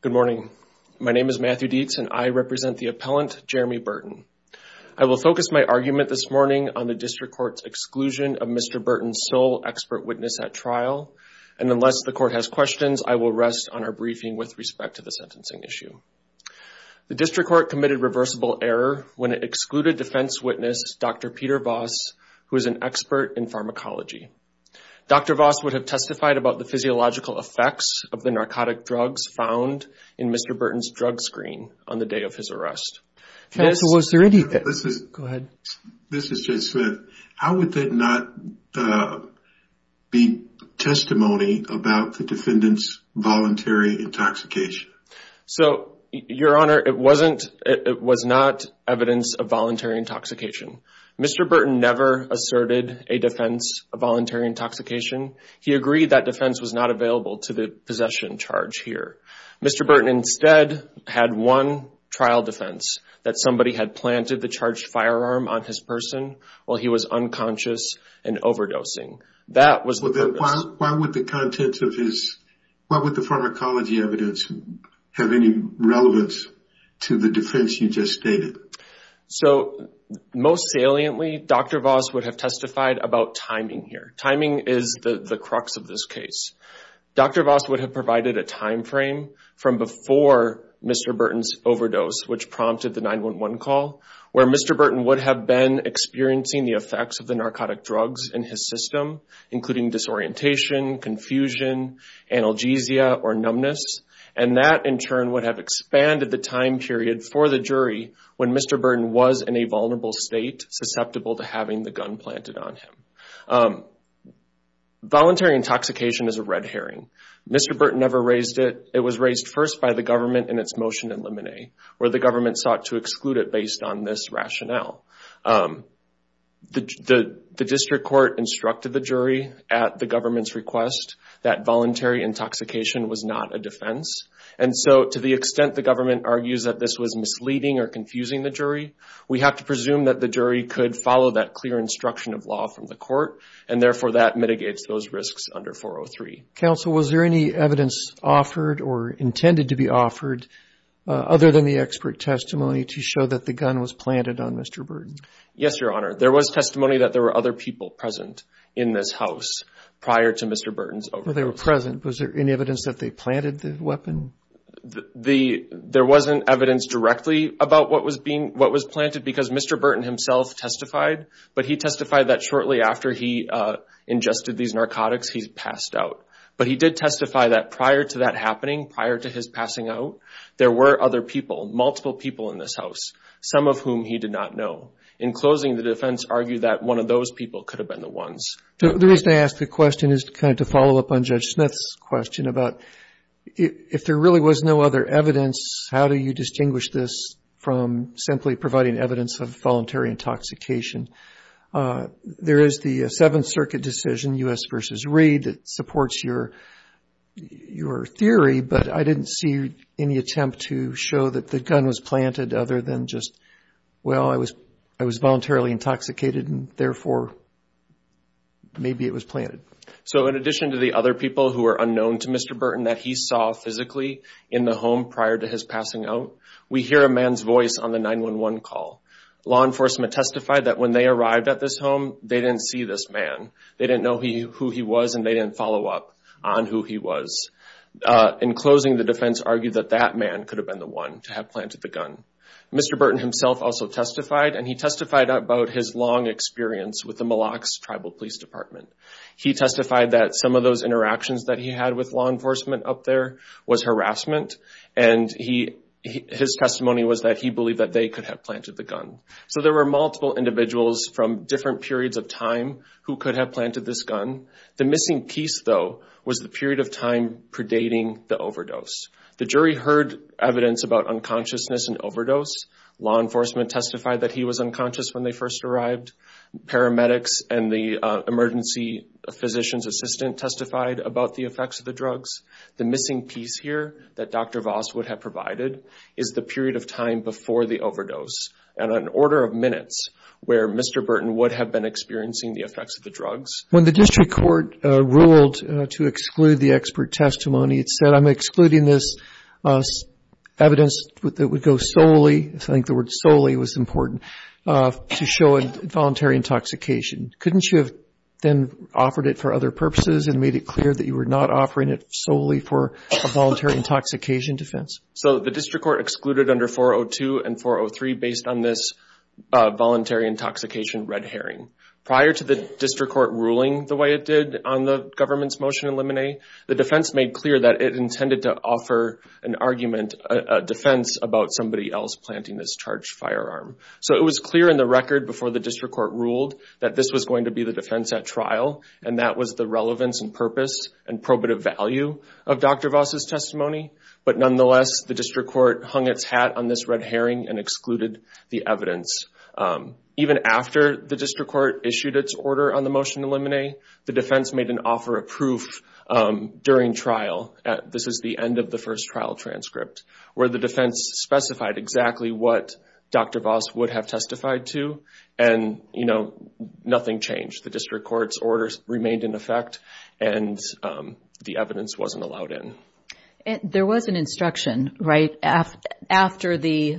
Good morning. My name is Matthew Dietz and I represent the appellant Jeremy Burton. I will focus my argument this morning on the District Court's exclusion of Mr. Burton's sole expert witness at trial, and unless the Court has questions, I will rest on our briefing with respect to the sentencing issue. The District Court committed reversible error when it excluded defense witness Dr. Peter Voss, who is an expert in pharmacology. Dr. Voss would have testified about the physiological effects of the narcotic drugs found in Mr. Burton's drug screen on the day of his arrest. This is Jay Smith. How would that not be testimony about the defendant's voluntary intoxication? Your Honor, it was not evidence of voluntary intoxication. Mr. Burton never asserted a defense of voluntary intoxication. He agreed that defense was not available to the possession charge here. Mr. Burton instead had one trial defense, that somebody had planted the charged firearm on his person while he was unconscious and overdosing. Why would the contents of his, why would the pharmacology evidence have any relevance to the defense you just stated? So, most saliently, Dr. Voss would have testified about timing here. Timing is the the crux of this case. Dr. Voss would have provided a time frame from before Mr. Burton's overdose, which prompted the 9-1-1 call, where Mr. Burton would have been experiencing the effects of the narcotic drugs in his system, including disorientation, confusion, analgesia, or numbness, and that in turn would have expanded the time period for the jury when Mr. Burton was in a vulnerable state, susceptible to having the gun planted on him. Voluntary intoxication is a red herring. Mr. Burton never raised it. It was raised first by the government in its motion in Lemonade, where the government sought to exclude it based on this rationale. The district court instructed the jury at the government's request that voluntary intoxication was not a defense, and so to the extent the government argues that this was misleading or confusing the jury, we have to presume that the jury could follow that clear instruction of law from the court, and therefore that mitigates those risks under 403. Counsel, was there any evidence offered or intended to be offered other than the expert testimony to show that the gun was planted on Mr. Burton? Yes, Your Honor. There was testimony that there were other people present in this house prior to Mr. Burton's overdose. They were present. Was there any evidence that they planted the weapon? There wasn't evidence directly about what was being what was planted because Mr. Burton himself testified, but he testified that shortly after he ingested these narcotics, he passed out. But he did testify that prior to that happening, prior to his passing out, there were other people, multiple people in this house, some of whom he did not know. In closing, the defense argued that one of those people could have been the ones. The reason I ask the question is kind of to follow up on Judge Smith's question about if there really was no other evidence, how do you distinguish this from simply providing evidence of voluntary intoxication? There is the Seventh Circuit decision, U.S. v. Reed, that supports your your theory, but I didn't see any attempt to show that the gun was planted other than just, well, I was I was voluntarily intoxicated and therefore maybe it was planted. So in addition to the other people who are unknown to Mr. Burton that he saw physically in the home prior to his out, we hear a man's voice on the 911 call. Law enforcement testified that when they arrived at this home, they didn't see this man. They didn't know who he was and they didn't follow up on who he was. In closing, the defense argued that that man could have been the one to have planted the gun. Mr. Burton himself also testified and he testified about his long experience with the Mille Lacs Tribal Police Department. He testified that some of those interactions that he had with law enforcement up there was harassment and his testimony was that he believed that they could have planted the gun. So there were multiple individuals from different periods of time who could have planted this gun. The missing piece, though, was the period of time predating the overdose. The jury heard evidence about unconsciousness and overdose. Law enforcement testified that he was unconscious when they first arrived. Paramedics and the emergency physician's assistant testified about the effects of the drugs. The missing piece here that Dr. Voss would have provided is the period of time before the overdose and an order of minutes where Mr. Burton would have been experiencing the effects of the drugs. When the district court ruled to exclude the expert testimony, it said, I'm excluding this evidence that would go solely, I think the word then offered it for other purposes and made it clear that you were not offering it solely for a voluntary intoxication defense. So the district court excluded under 402 and 403 based on this voluntary intoxication red herring. Prior to the district court ruling the way it did on the government's motion to eliminate, the defense made clear that it intended to offer an argument, a defense about somebody else planting this charged firearm. So it was clear in the record before the district court ruled that this was going to be the defense at trial and that was the relevance and purpose and probative value of Dr. Voss's testimony. But nonetheless, the district court hung its hat on this red herring and excluded the evidence. Even after the district court issued its order on the motion to eliminate, the defense made an offer of proof during trial. This is the end of the first trial transcript where the defense specified exactly what Dr. Voss would have testified to and nothing changed. The district court's orders remained in effect and the evidence wasn't allowed in. There was an instruction, right? After the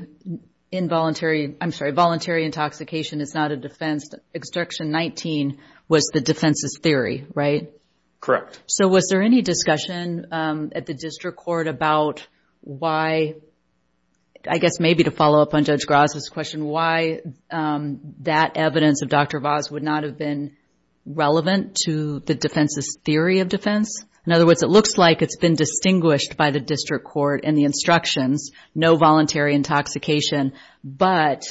involuntary, I'm sorry, voluntary intoxication is not a defense, instruction 19 was the defense's theory, right? Correct. So was there any discussion at the maybe to follow up on Judge Gross's question, why that evidence of Dr. Voss would not have been relevant to the defense's theory of defense? In other words, it looks like it's been distinguished by the district court and the instructions, no voluntary intoxication, but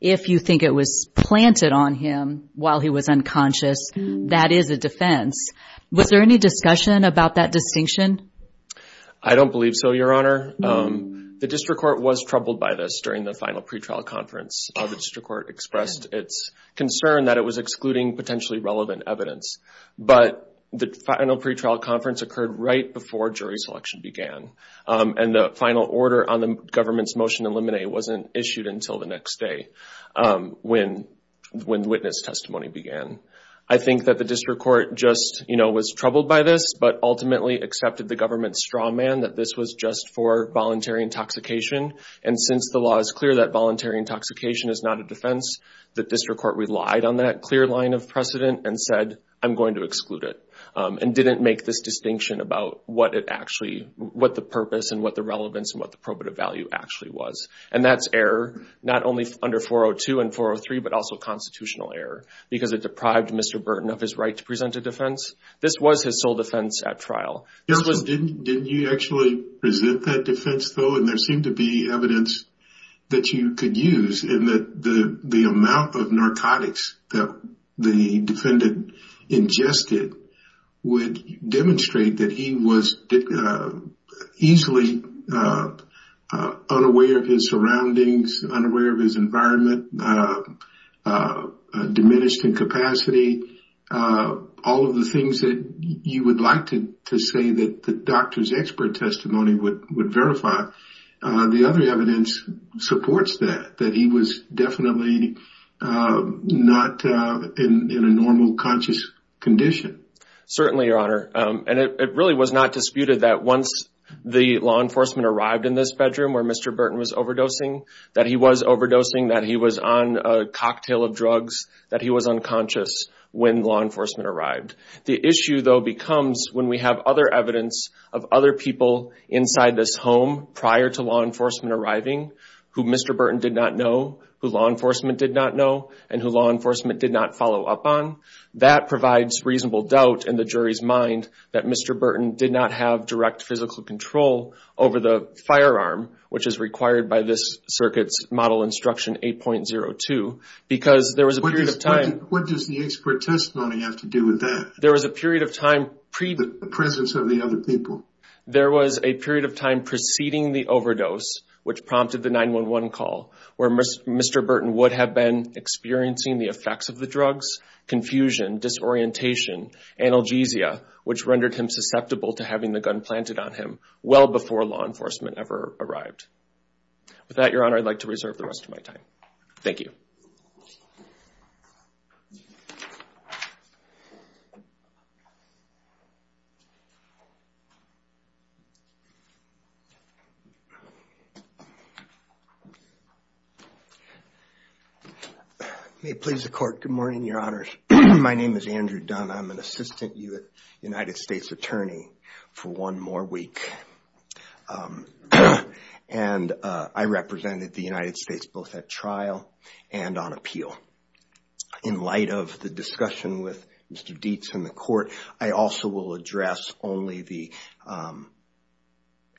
if you think it was planted on him while he was unconscious, that is a defense. Was there any discussion about that distinction? I don't believe so, Your Honor. The district court was troubled by this during the final pretrial conference. The district court expressed its concern that it was excluding potentially relevant evidence, but the final pretrial conference occurred right before jury selection began and the final order on the government's motion to eliminate wasn't issued until the next day when witness testimony began. I think that the district court just, you know, was troubled by this, but ultimately accepted the government's straw man that this was just for voluntary intoxication, and since the law is clear that voluntary intoxication is not a defense, the district court relied on that clear line of precedent and said, I'm going to exclude it, and didn't make this distinction about what it actually, what the purpose and what the relevance and what the probative value actually was, and that's error not only under 402 and 403, but also because it deprived Mr. Burton of his right to present a defense. This was his sole defense at trial. Your Honor, didn't you actually present that defense, though, and there seemed to be evidence that you could use in that the amount of narcotics that the defendant ingested would demonstrate that he was easily unaware of his surroundings, unaware of his environment, diminished in capacity, all of the things that you would like to say that the doctor's expert testimony would verify. The other evidence supports that, that he was definitely not in a normal conscious condition. Certainly, Your Honor, and it really was not disputed that once the law enforcement arrived in this bedroom where Mr. Burton was overdosing, that he was on a cocktail of drugs, that he was unconscious when law enforcement arrived. The issue, though, becomes when we have other evidence of other people inside this home prior to law enforcement arriving who Mr. Burton did not know, who law enforcement did not know, and who law enforcement did not follow up on. That provides reasonable doubt in the jury's mind that Mr. Burton did not have direct physical control over the firearm, which is required by this circuit's model instruction 8.02, because there was a period of time... What does the expert testimony have to do with that? There was a period of time... The presence of the other people. There was a period of time preceding the overdose, which prompted the 911 call, where Mr. Burton would have been experiencing the effects of the drugs, confusion, disorientation, analgesia, which rendered him unacceptable to having the gun planted on him well before law enforcement ever arrived. With that, Your Honor, I'd like to reserve the rest of my time. Thank you. May it please the Court. Good morning, Your Honors. My name is Andrew Dunn. I'm an assistant U.S. attorney for one more week, and I represented the United States both at trial and on appeal. In light of the discussion with Mr. Dietz and the Court, I also will address only the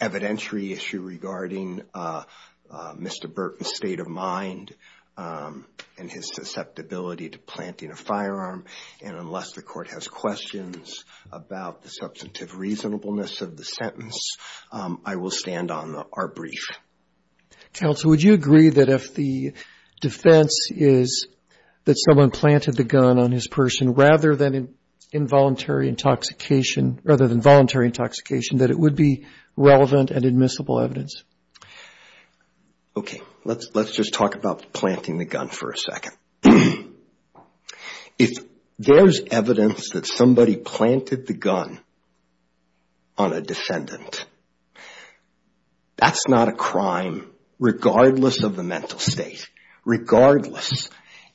evidentiary issue regarding Mr. Burton's state of mind and his susceptibility to a firearm. Unless the Court has questions about the substantive reasonableness of the sentence, I will stand on our brief. Counsel, would you agree that if the defense is that someone planted the gun on his person rather than involuntary intoxication, that it would be relevant and admissible evidence? Okay. Let's just talk about planting the gun for a second. If there's evidence that somebody planted the gun on a defendant, that's not a crime regardless of the mental state, regardless.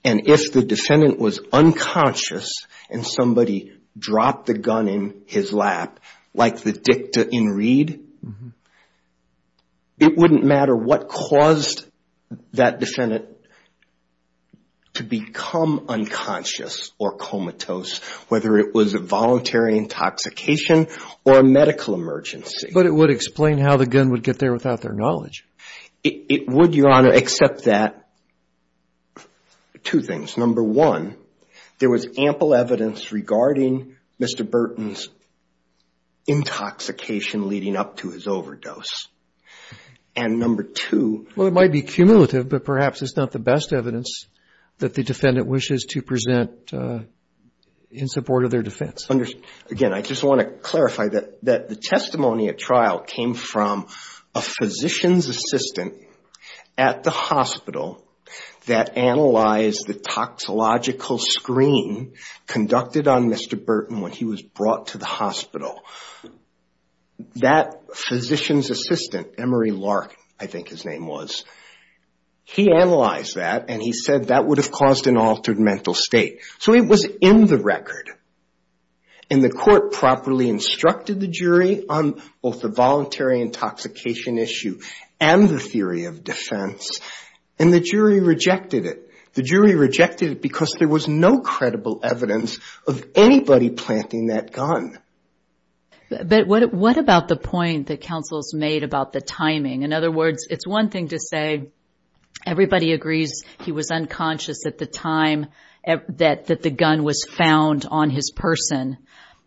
And if the defendant was unconscious and somebody dropped the gun in his lap, like the dicta in Reed, it wouldn't matter what caused that defendant to become unconscious or comatose, whether it was a voluntary intoxication or a medical emergency. But it would explain how the gun would get there without their knowledge. It would, Your Honor, except that two things. Number one, there was ample evidence regarding Mr. Burton's intoxication leading up to his overdose. And number two... Well, it might be cumulative, but perhaps it's not the best evidence that the defendant wishes to present in support of their defense. Again, I just want to clarify that the testimony at trial came from a physician's assistant at the hospital that analyzed the toxological screen conducted on Mr. Burton when he was brought to the hospital. That physician's assistant, Emery Lark, I think his name was, he analyzed that and he said that would have caused an altered mental state. So it was in the record. And the court properly instructed the jury on both the voluntary intoxication issue and the theory of defense. And the jury rejected it. The jury rejected it because there was no credible evidence of anybody planting that gun. But what about the point that counsel's made about the timing? In other words, it's one thing to say everybody agrees he was unconscious at the time that the gun was found on his person.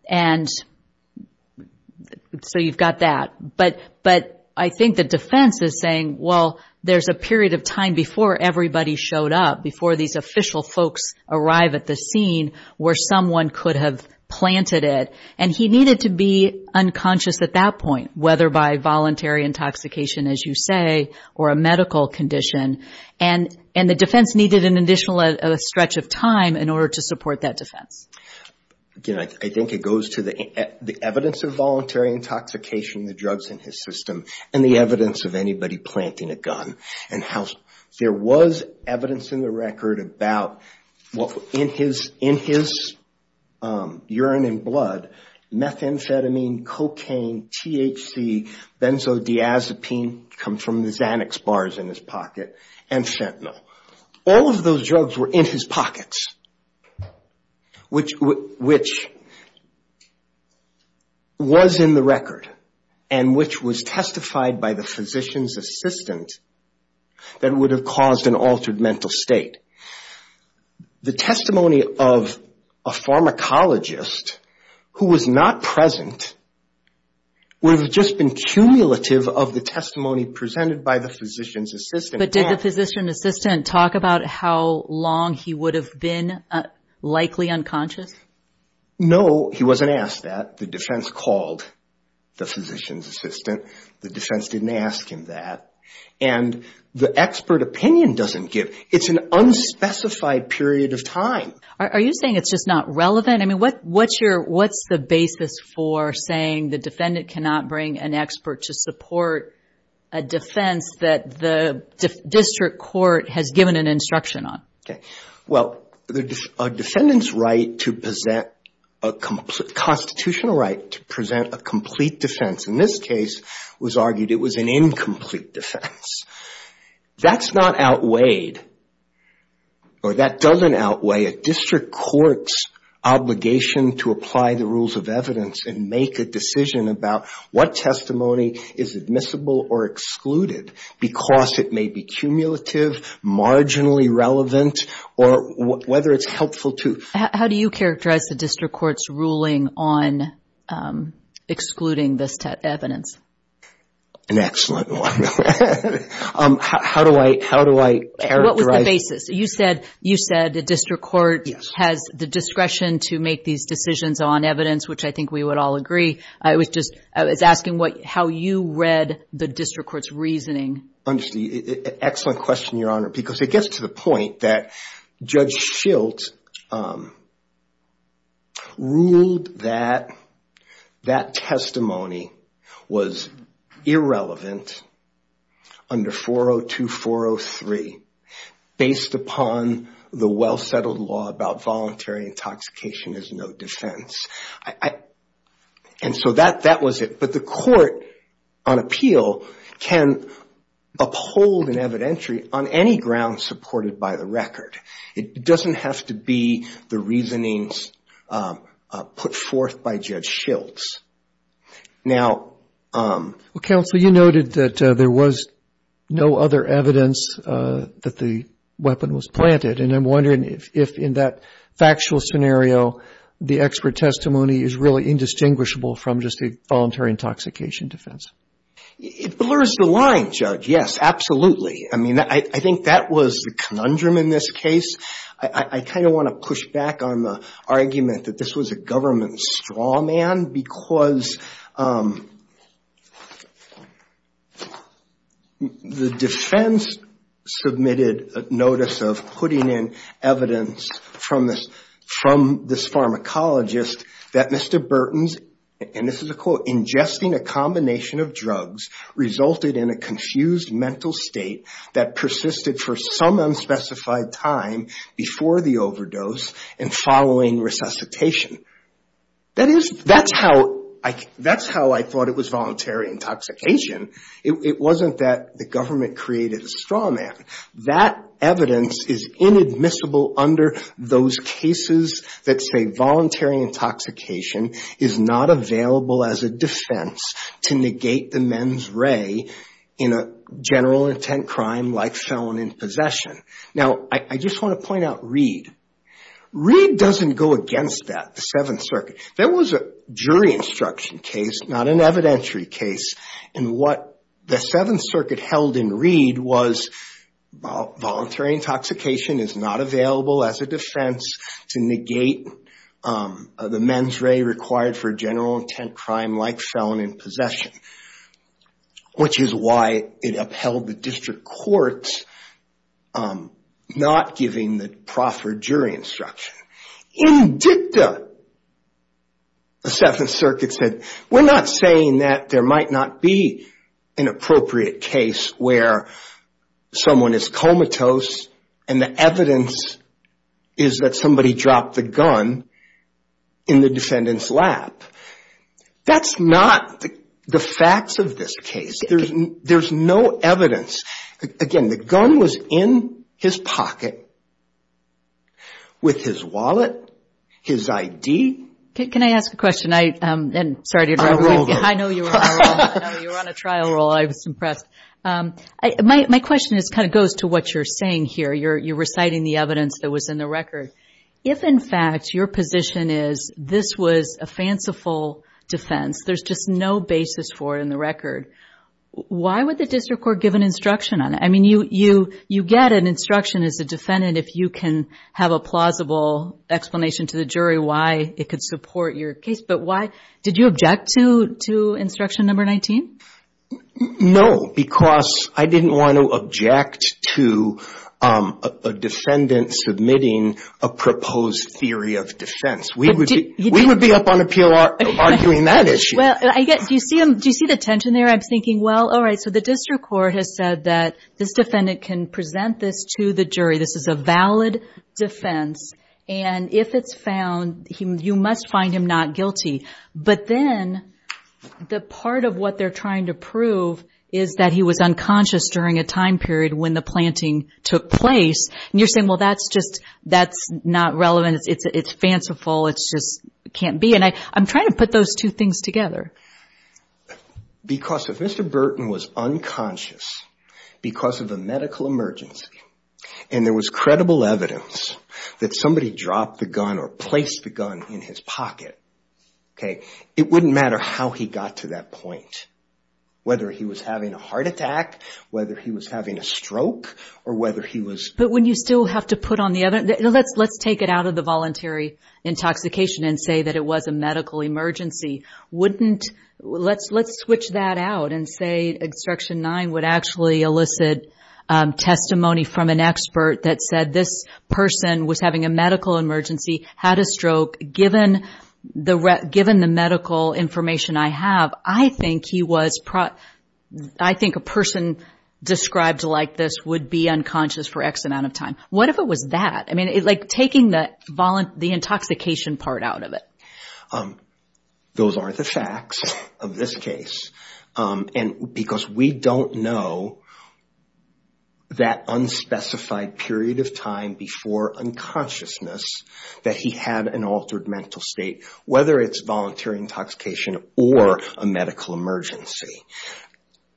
And so you've got that. But I think the defense is saying, well, there's a period of time before everybody showed up, before these official folks arrive at the scene where someone could have planted it. And he needed to be unconscious at that point, whether by voluntary intoxication, as you say, or a medical condition. And the defense needed an additional stretch of time in order to support that defense. Again, I think it goes to the evidence of voluntary intoxication, the drugs in his system, and the evidence of anybody planting a gun. There was evidence in the record about, in his urine and blood, methamphetamine, cocaine, THC, benzodiazepine, comes from the Xanax bars in his pocket, and fentanyl. All of those drugs were in his pockets, which was in the record and which was testified by the physician's assistant that would have caused an altered mental state. The testimony of a pharmacologist who was not present would have just been cumulative of the testimony presented by the physician's assistant. But did the physician's assistant talk about how long he would have been likely unconscious? No, he wasn't asked that. The defense called the physician's assistant. The defense didn't ask him that. And the expert opinion doesn't give. It's an unspecified period of time. Are you saying it's just not relevant? I mean, what's the basis for saying the defendant cannot bring an expert to support a defense that the district court has given an instruction on? Okay. Well, a defendant's constitutional right to present a complete defense, in this case, was argued it was an incomplete defense. That's not outweighed, or that doesn't outweigh a district court's obligation to apply the rules of evidence and make a decision about what testimony is admissible or excluded because it may be cumulative, marginally relevant, or whether it's helpful to... How do you characterize the district court's ruling on excluding this evidence? An excellent one. How do I characterize... What was the basis? You said the district court has the discretion to make these decisions on evidence, which I think we would all agree. I was asking how you read the district court's reasoning. Excellent question, Your Honor, because it gets to the point that Judge Schilt ruled that that testimony was irrelevant under 402-403 based upon the well-settled law about voluntary intoxication as no defense. That was it, but the court on appeal can uphold an evidentiary on any ground supported by the record. It doesn't have to be the reasonings put forth by Judge Schilt. Well, Counsel, you noted that there was no other evidence that the weapon was planted, and I'm wondering if in that factual scenario, the expert testimony is really indistinguishable from just a voluntary intoxication defense. It blurs the line, Judge. Yes, absolutely. I think that was the conundrum in this case. I want to push back on the argument that this was a government straw man because the defense submitted a notice of putting in evidence from this pharmacologist that Mr. Burton's, and this is a quote, ingesting a combination of drugs resulted in a confused mental state that persisted for some unspecified time before the overdose and following resuscitation. That's how I thought it was voluntary intoxication. It wasn't that the government created a straw man. That evidence is inadmissible under those cases that say voluntary intoxication is not available as a defense to negate the men's ray in a general intent crime like felon in possession. Now, I just want to point out Reed. Reed doesn't go against that, the Seventh Circuit. That was a jury instruction case, not an evidentiary case, and what the Seventh Circuit held in Reed was voluntary intoxication is not available as a defense to negate the men's ray required for general intent crime like felon in possession, which is why it upheld the district courts not giving the jury instruction. In dicta, the Seventh Circuit said, we're not saying that there might not be an appropriate case where someone is comatose and the evidence is that somebody dropped the gun in the defendant's lap. That's not the facts of this case. There's no evidence. Again, the gun was in his pocket with his wallet, his I.D. I know you were on a trial roll. I was impressed. My question goes to what you're saying here. You're reciting the evidence that was in the record. If, in fact, your position is this was a fanciful defense, there's just no basis for it in the record, why would the district court give instruction on it? You get an instruction as a defendant if you can have a plausible explanation to the jury why it could support your case, but did you object to instruction number 19? No, because I didn't want to object to a defendant submitting a proposed theory of defense. We would be up on appeal arguing that issue. Do you see the tension there? I'm thinking, well, the district court has said that this defendant can present this to the jury. This is a valid defense. If it's found, you must find him not guilty, but then the part of what they're trying to prove is that he was unconscious during a time period when the planting took place. You're saying, well, that's not relevant. It's fanciful. It just can't be. I'm trying to put those two things together. Because if Mr. Burton was unconscious because of a medical emergency and there was credible evidence that somebody dropped the gun or placed the gun in his pocket, it wouldn't matter how he got to that point, whether he was having a heart attack, whether he was having a stroke, or whether he was... But when you still have to put on the other... Let's take it out of the voluntary intoxication and say that it was a medical emergency. Let's switch that out and say, Instruction 9 would actually elicit testimony from an expert that said this person was having a medical emergency, had a stroke. Given the medical information I have, I think a person described like this would be unconscious for X amount of time. What if it was that? Taking the intoxication part out of it. Those aren't the facts of this case. Because we don't know that unspecified period of time before unconsciousness that he had an altered mental state, whether it's voluntary intoxication or a medical emergency.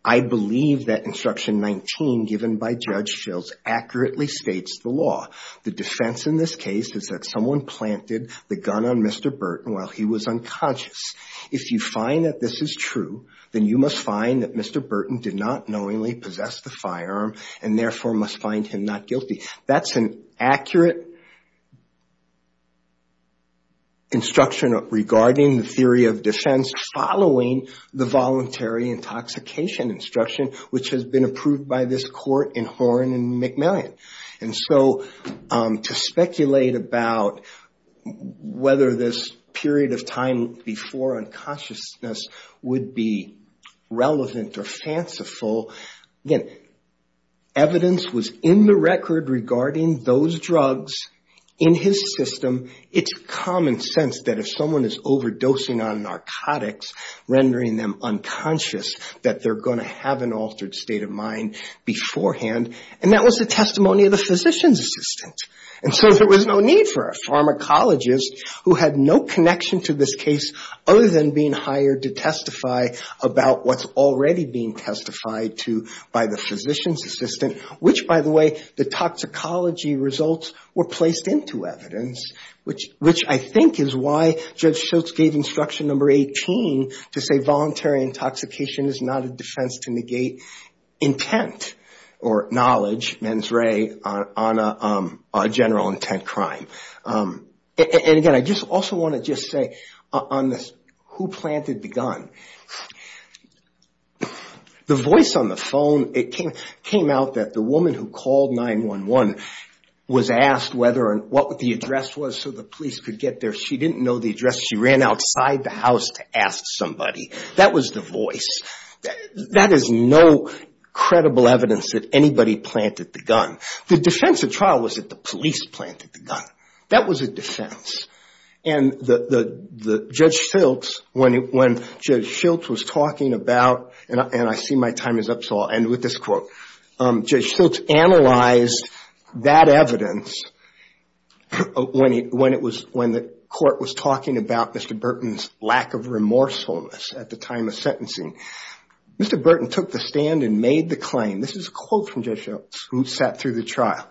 I believe that Instruction 19 given by Judge Schiltz accurately states the law. The defense in this case is that someone planted the gun on Mr. Burton while he was unconscious. If you find that this is true, then you must find that Mr. Burton did not knowingly possess the firearm and therefore must find him not guilty. That's an accurate instruction regarding the theory of defense following the voluntary intoxication instruction which has been approved by this court in Horne and McMillan. To speculate about whether this period of time before unconsciousness would be relevant or fanciful, again, evidence was in the record regarding those drugs in his system. It's common sense that if someone is overdosing on narcotics, rendering them unconscious, that they're going to have an altered state of mind beforehand. That was the testimony of the physician's assistant. There was no need for a pharmacologist who had no connection to this case other than being hired to about what's already being testified to by the physician's assistant, which, by the way, the toxicology results were placed into evidence, which I think is why Judge Schiltz gave Instruction 18 to say voluntary intoxication is not a defense to negate intent or knowledge, mens re, on a crime. Again, I also want to just say on this, who planted the gun? The voice on the phone, it came out that the woman who called 911 was asked what the address was so the police could get there. She didn't know the address. She ran outside the house to ask somebody. That was the voice. That is no credible evidence that anybody planted the gun. The defense of trial was that the police planted the gun. That was a defense. Judge Schiltz, when Judge Schiltz was talking about, and I see my time is up so I'll end with this quote, Judge Schiltz analyzed that evidence when the court was talking about Mr. Burton's lack of remorsefulness at the time of sentencing. Mr. Burton took the stand and made the claim. This is a quote from Judge Schiltz who sat through the trial.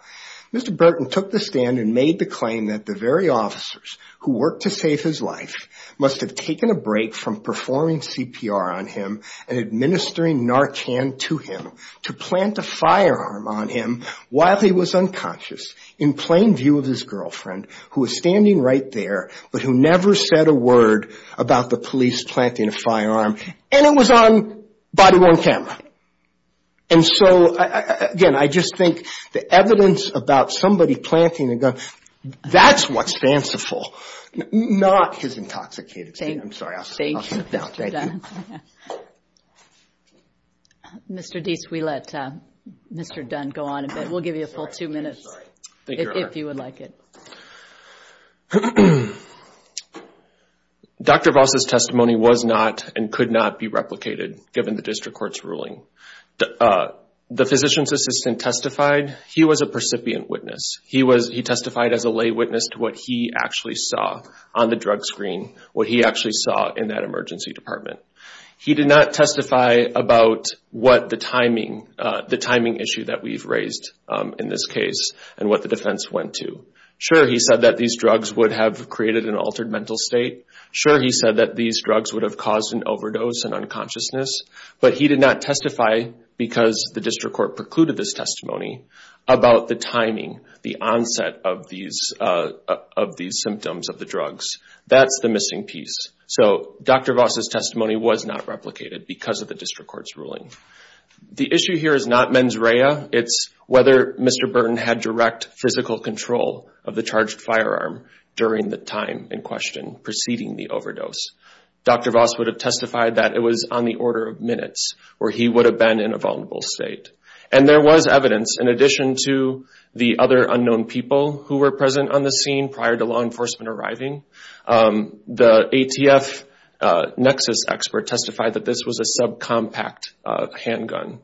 Mr. Burton took the stand and made the claim that the very officers who worked to save his life must have taken a break from performing CPR on him and administering Narcan to him to plant a firearm on him while he was unconscious in plain view of his girlfriend who was standing right there, but who never said a about the police planting a firearm. It was on body-worn camera. Again, I just think the evidence about somebody planting a gun, that's what's fanciful, not his intoxicated state. I'm sorry. Thank you, Mr. Dunn. Mr. Deese, we let Mr. Dunn go on a bit. We'll give you a full two minutes if you would like it. Dr. Voss' testimony was not and could not be replicated given the district court's ruling. The physician's assistant testified. He was a percipient witness. He testified as a lay witness to what he actually saw on the drug screen, what he actually saw in that emergency department. He did not testify about the timing issue that we've raised in this case and what the defense went to. Sure, he said that these drugs would have created an altered mental state. Sure, he said that these drugs would have caused an overdose and unconsciousness, but he did not testify because the district court precluded this testimony about the timing, the onset of these symptoms of the drugs. That's the missing piece. Dr. Voss' testimony was not replicated because of the district court's ruling. The issue here is not mens rea. It's whether Mr. Burton had direct physical control of the charged firearm during the time in question preceding the overdose. Dr. Voss would have testified that it was on the order of minutes where he would have been in a vulnerable state. There was evidence in addition to the other unknown people who were present on the scene prior to law enforcement arriving. The ATF Nexus expert testified that this was a sub-compact handgun.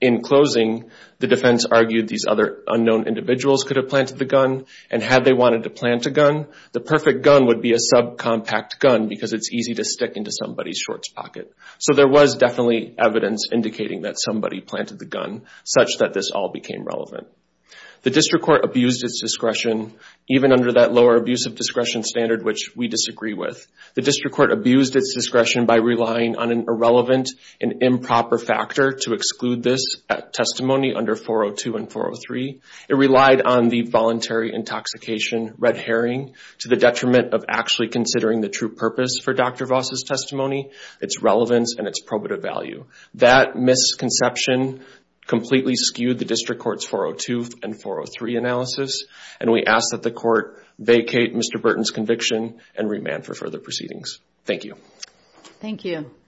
In closing, the defense argued these other unknown individuals could have planted the gun, and had they wanted to plant a gun, the perfect gun would be a sub-compact gun because it's easy to stick into somebody's shorts pocket. So there was definitely evidence indicating that somebody planted the gun such that this all became relevant. The district court abused its discretion even under that lower abuse of discretion standard which we disagree with. The district court abused its discretion by relying on an irrelevant and improper factor to exclude this testimony under 402 and 403. It relied on the voluntary intoxication, red herring, to the detriment of actually considering the true purpose for Dr. Voss' testimony, its relevance, and its probative value. That misconception completely skewed the district court's 402 and 403 analysis, and we ask that the court vacate Mr. Burton's conviction and remand for further proceedings. Thank you. Thank you.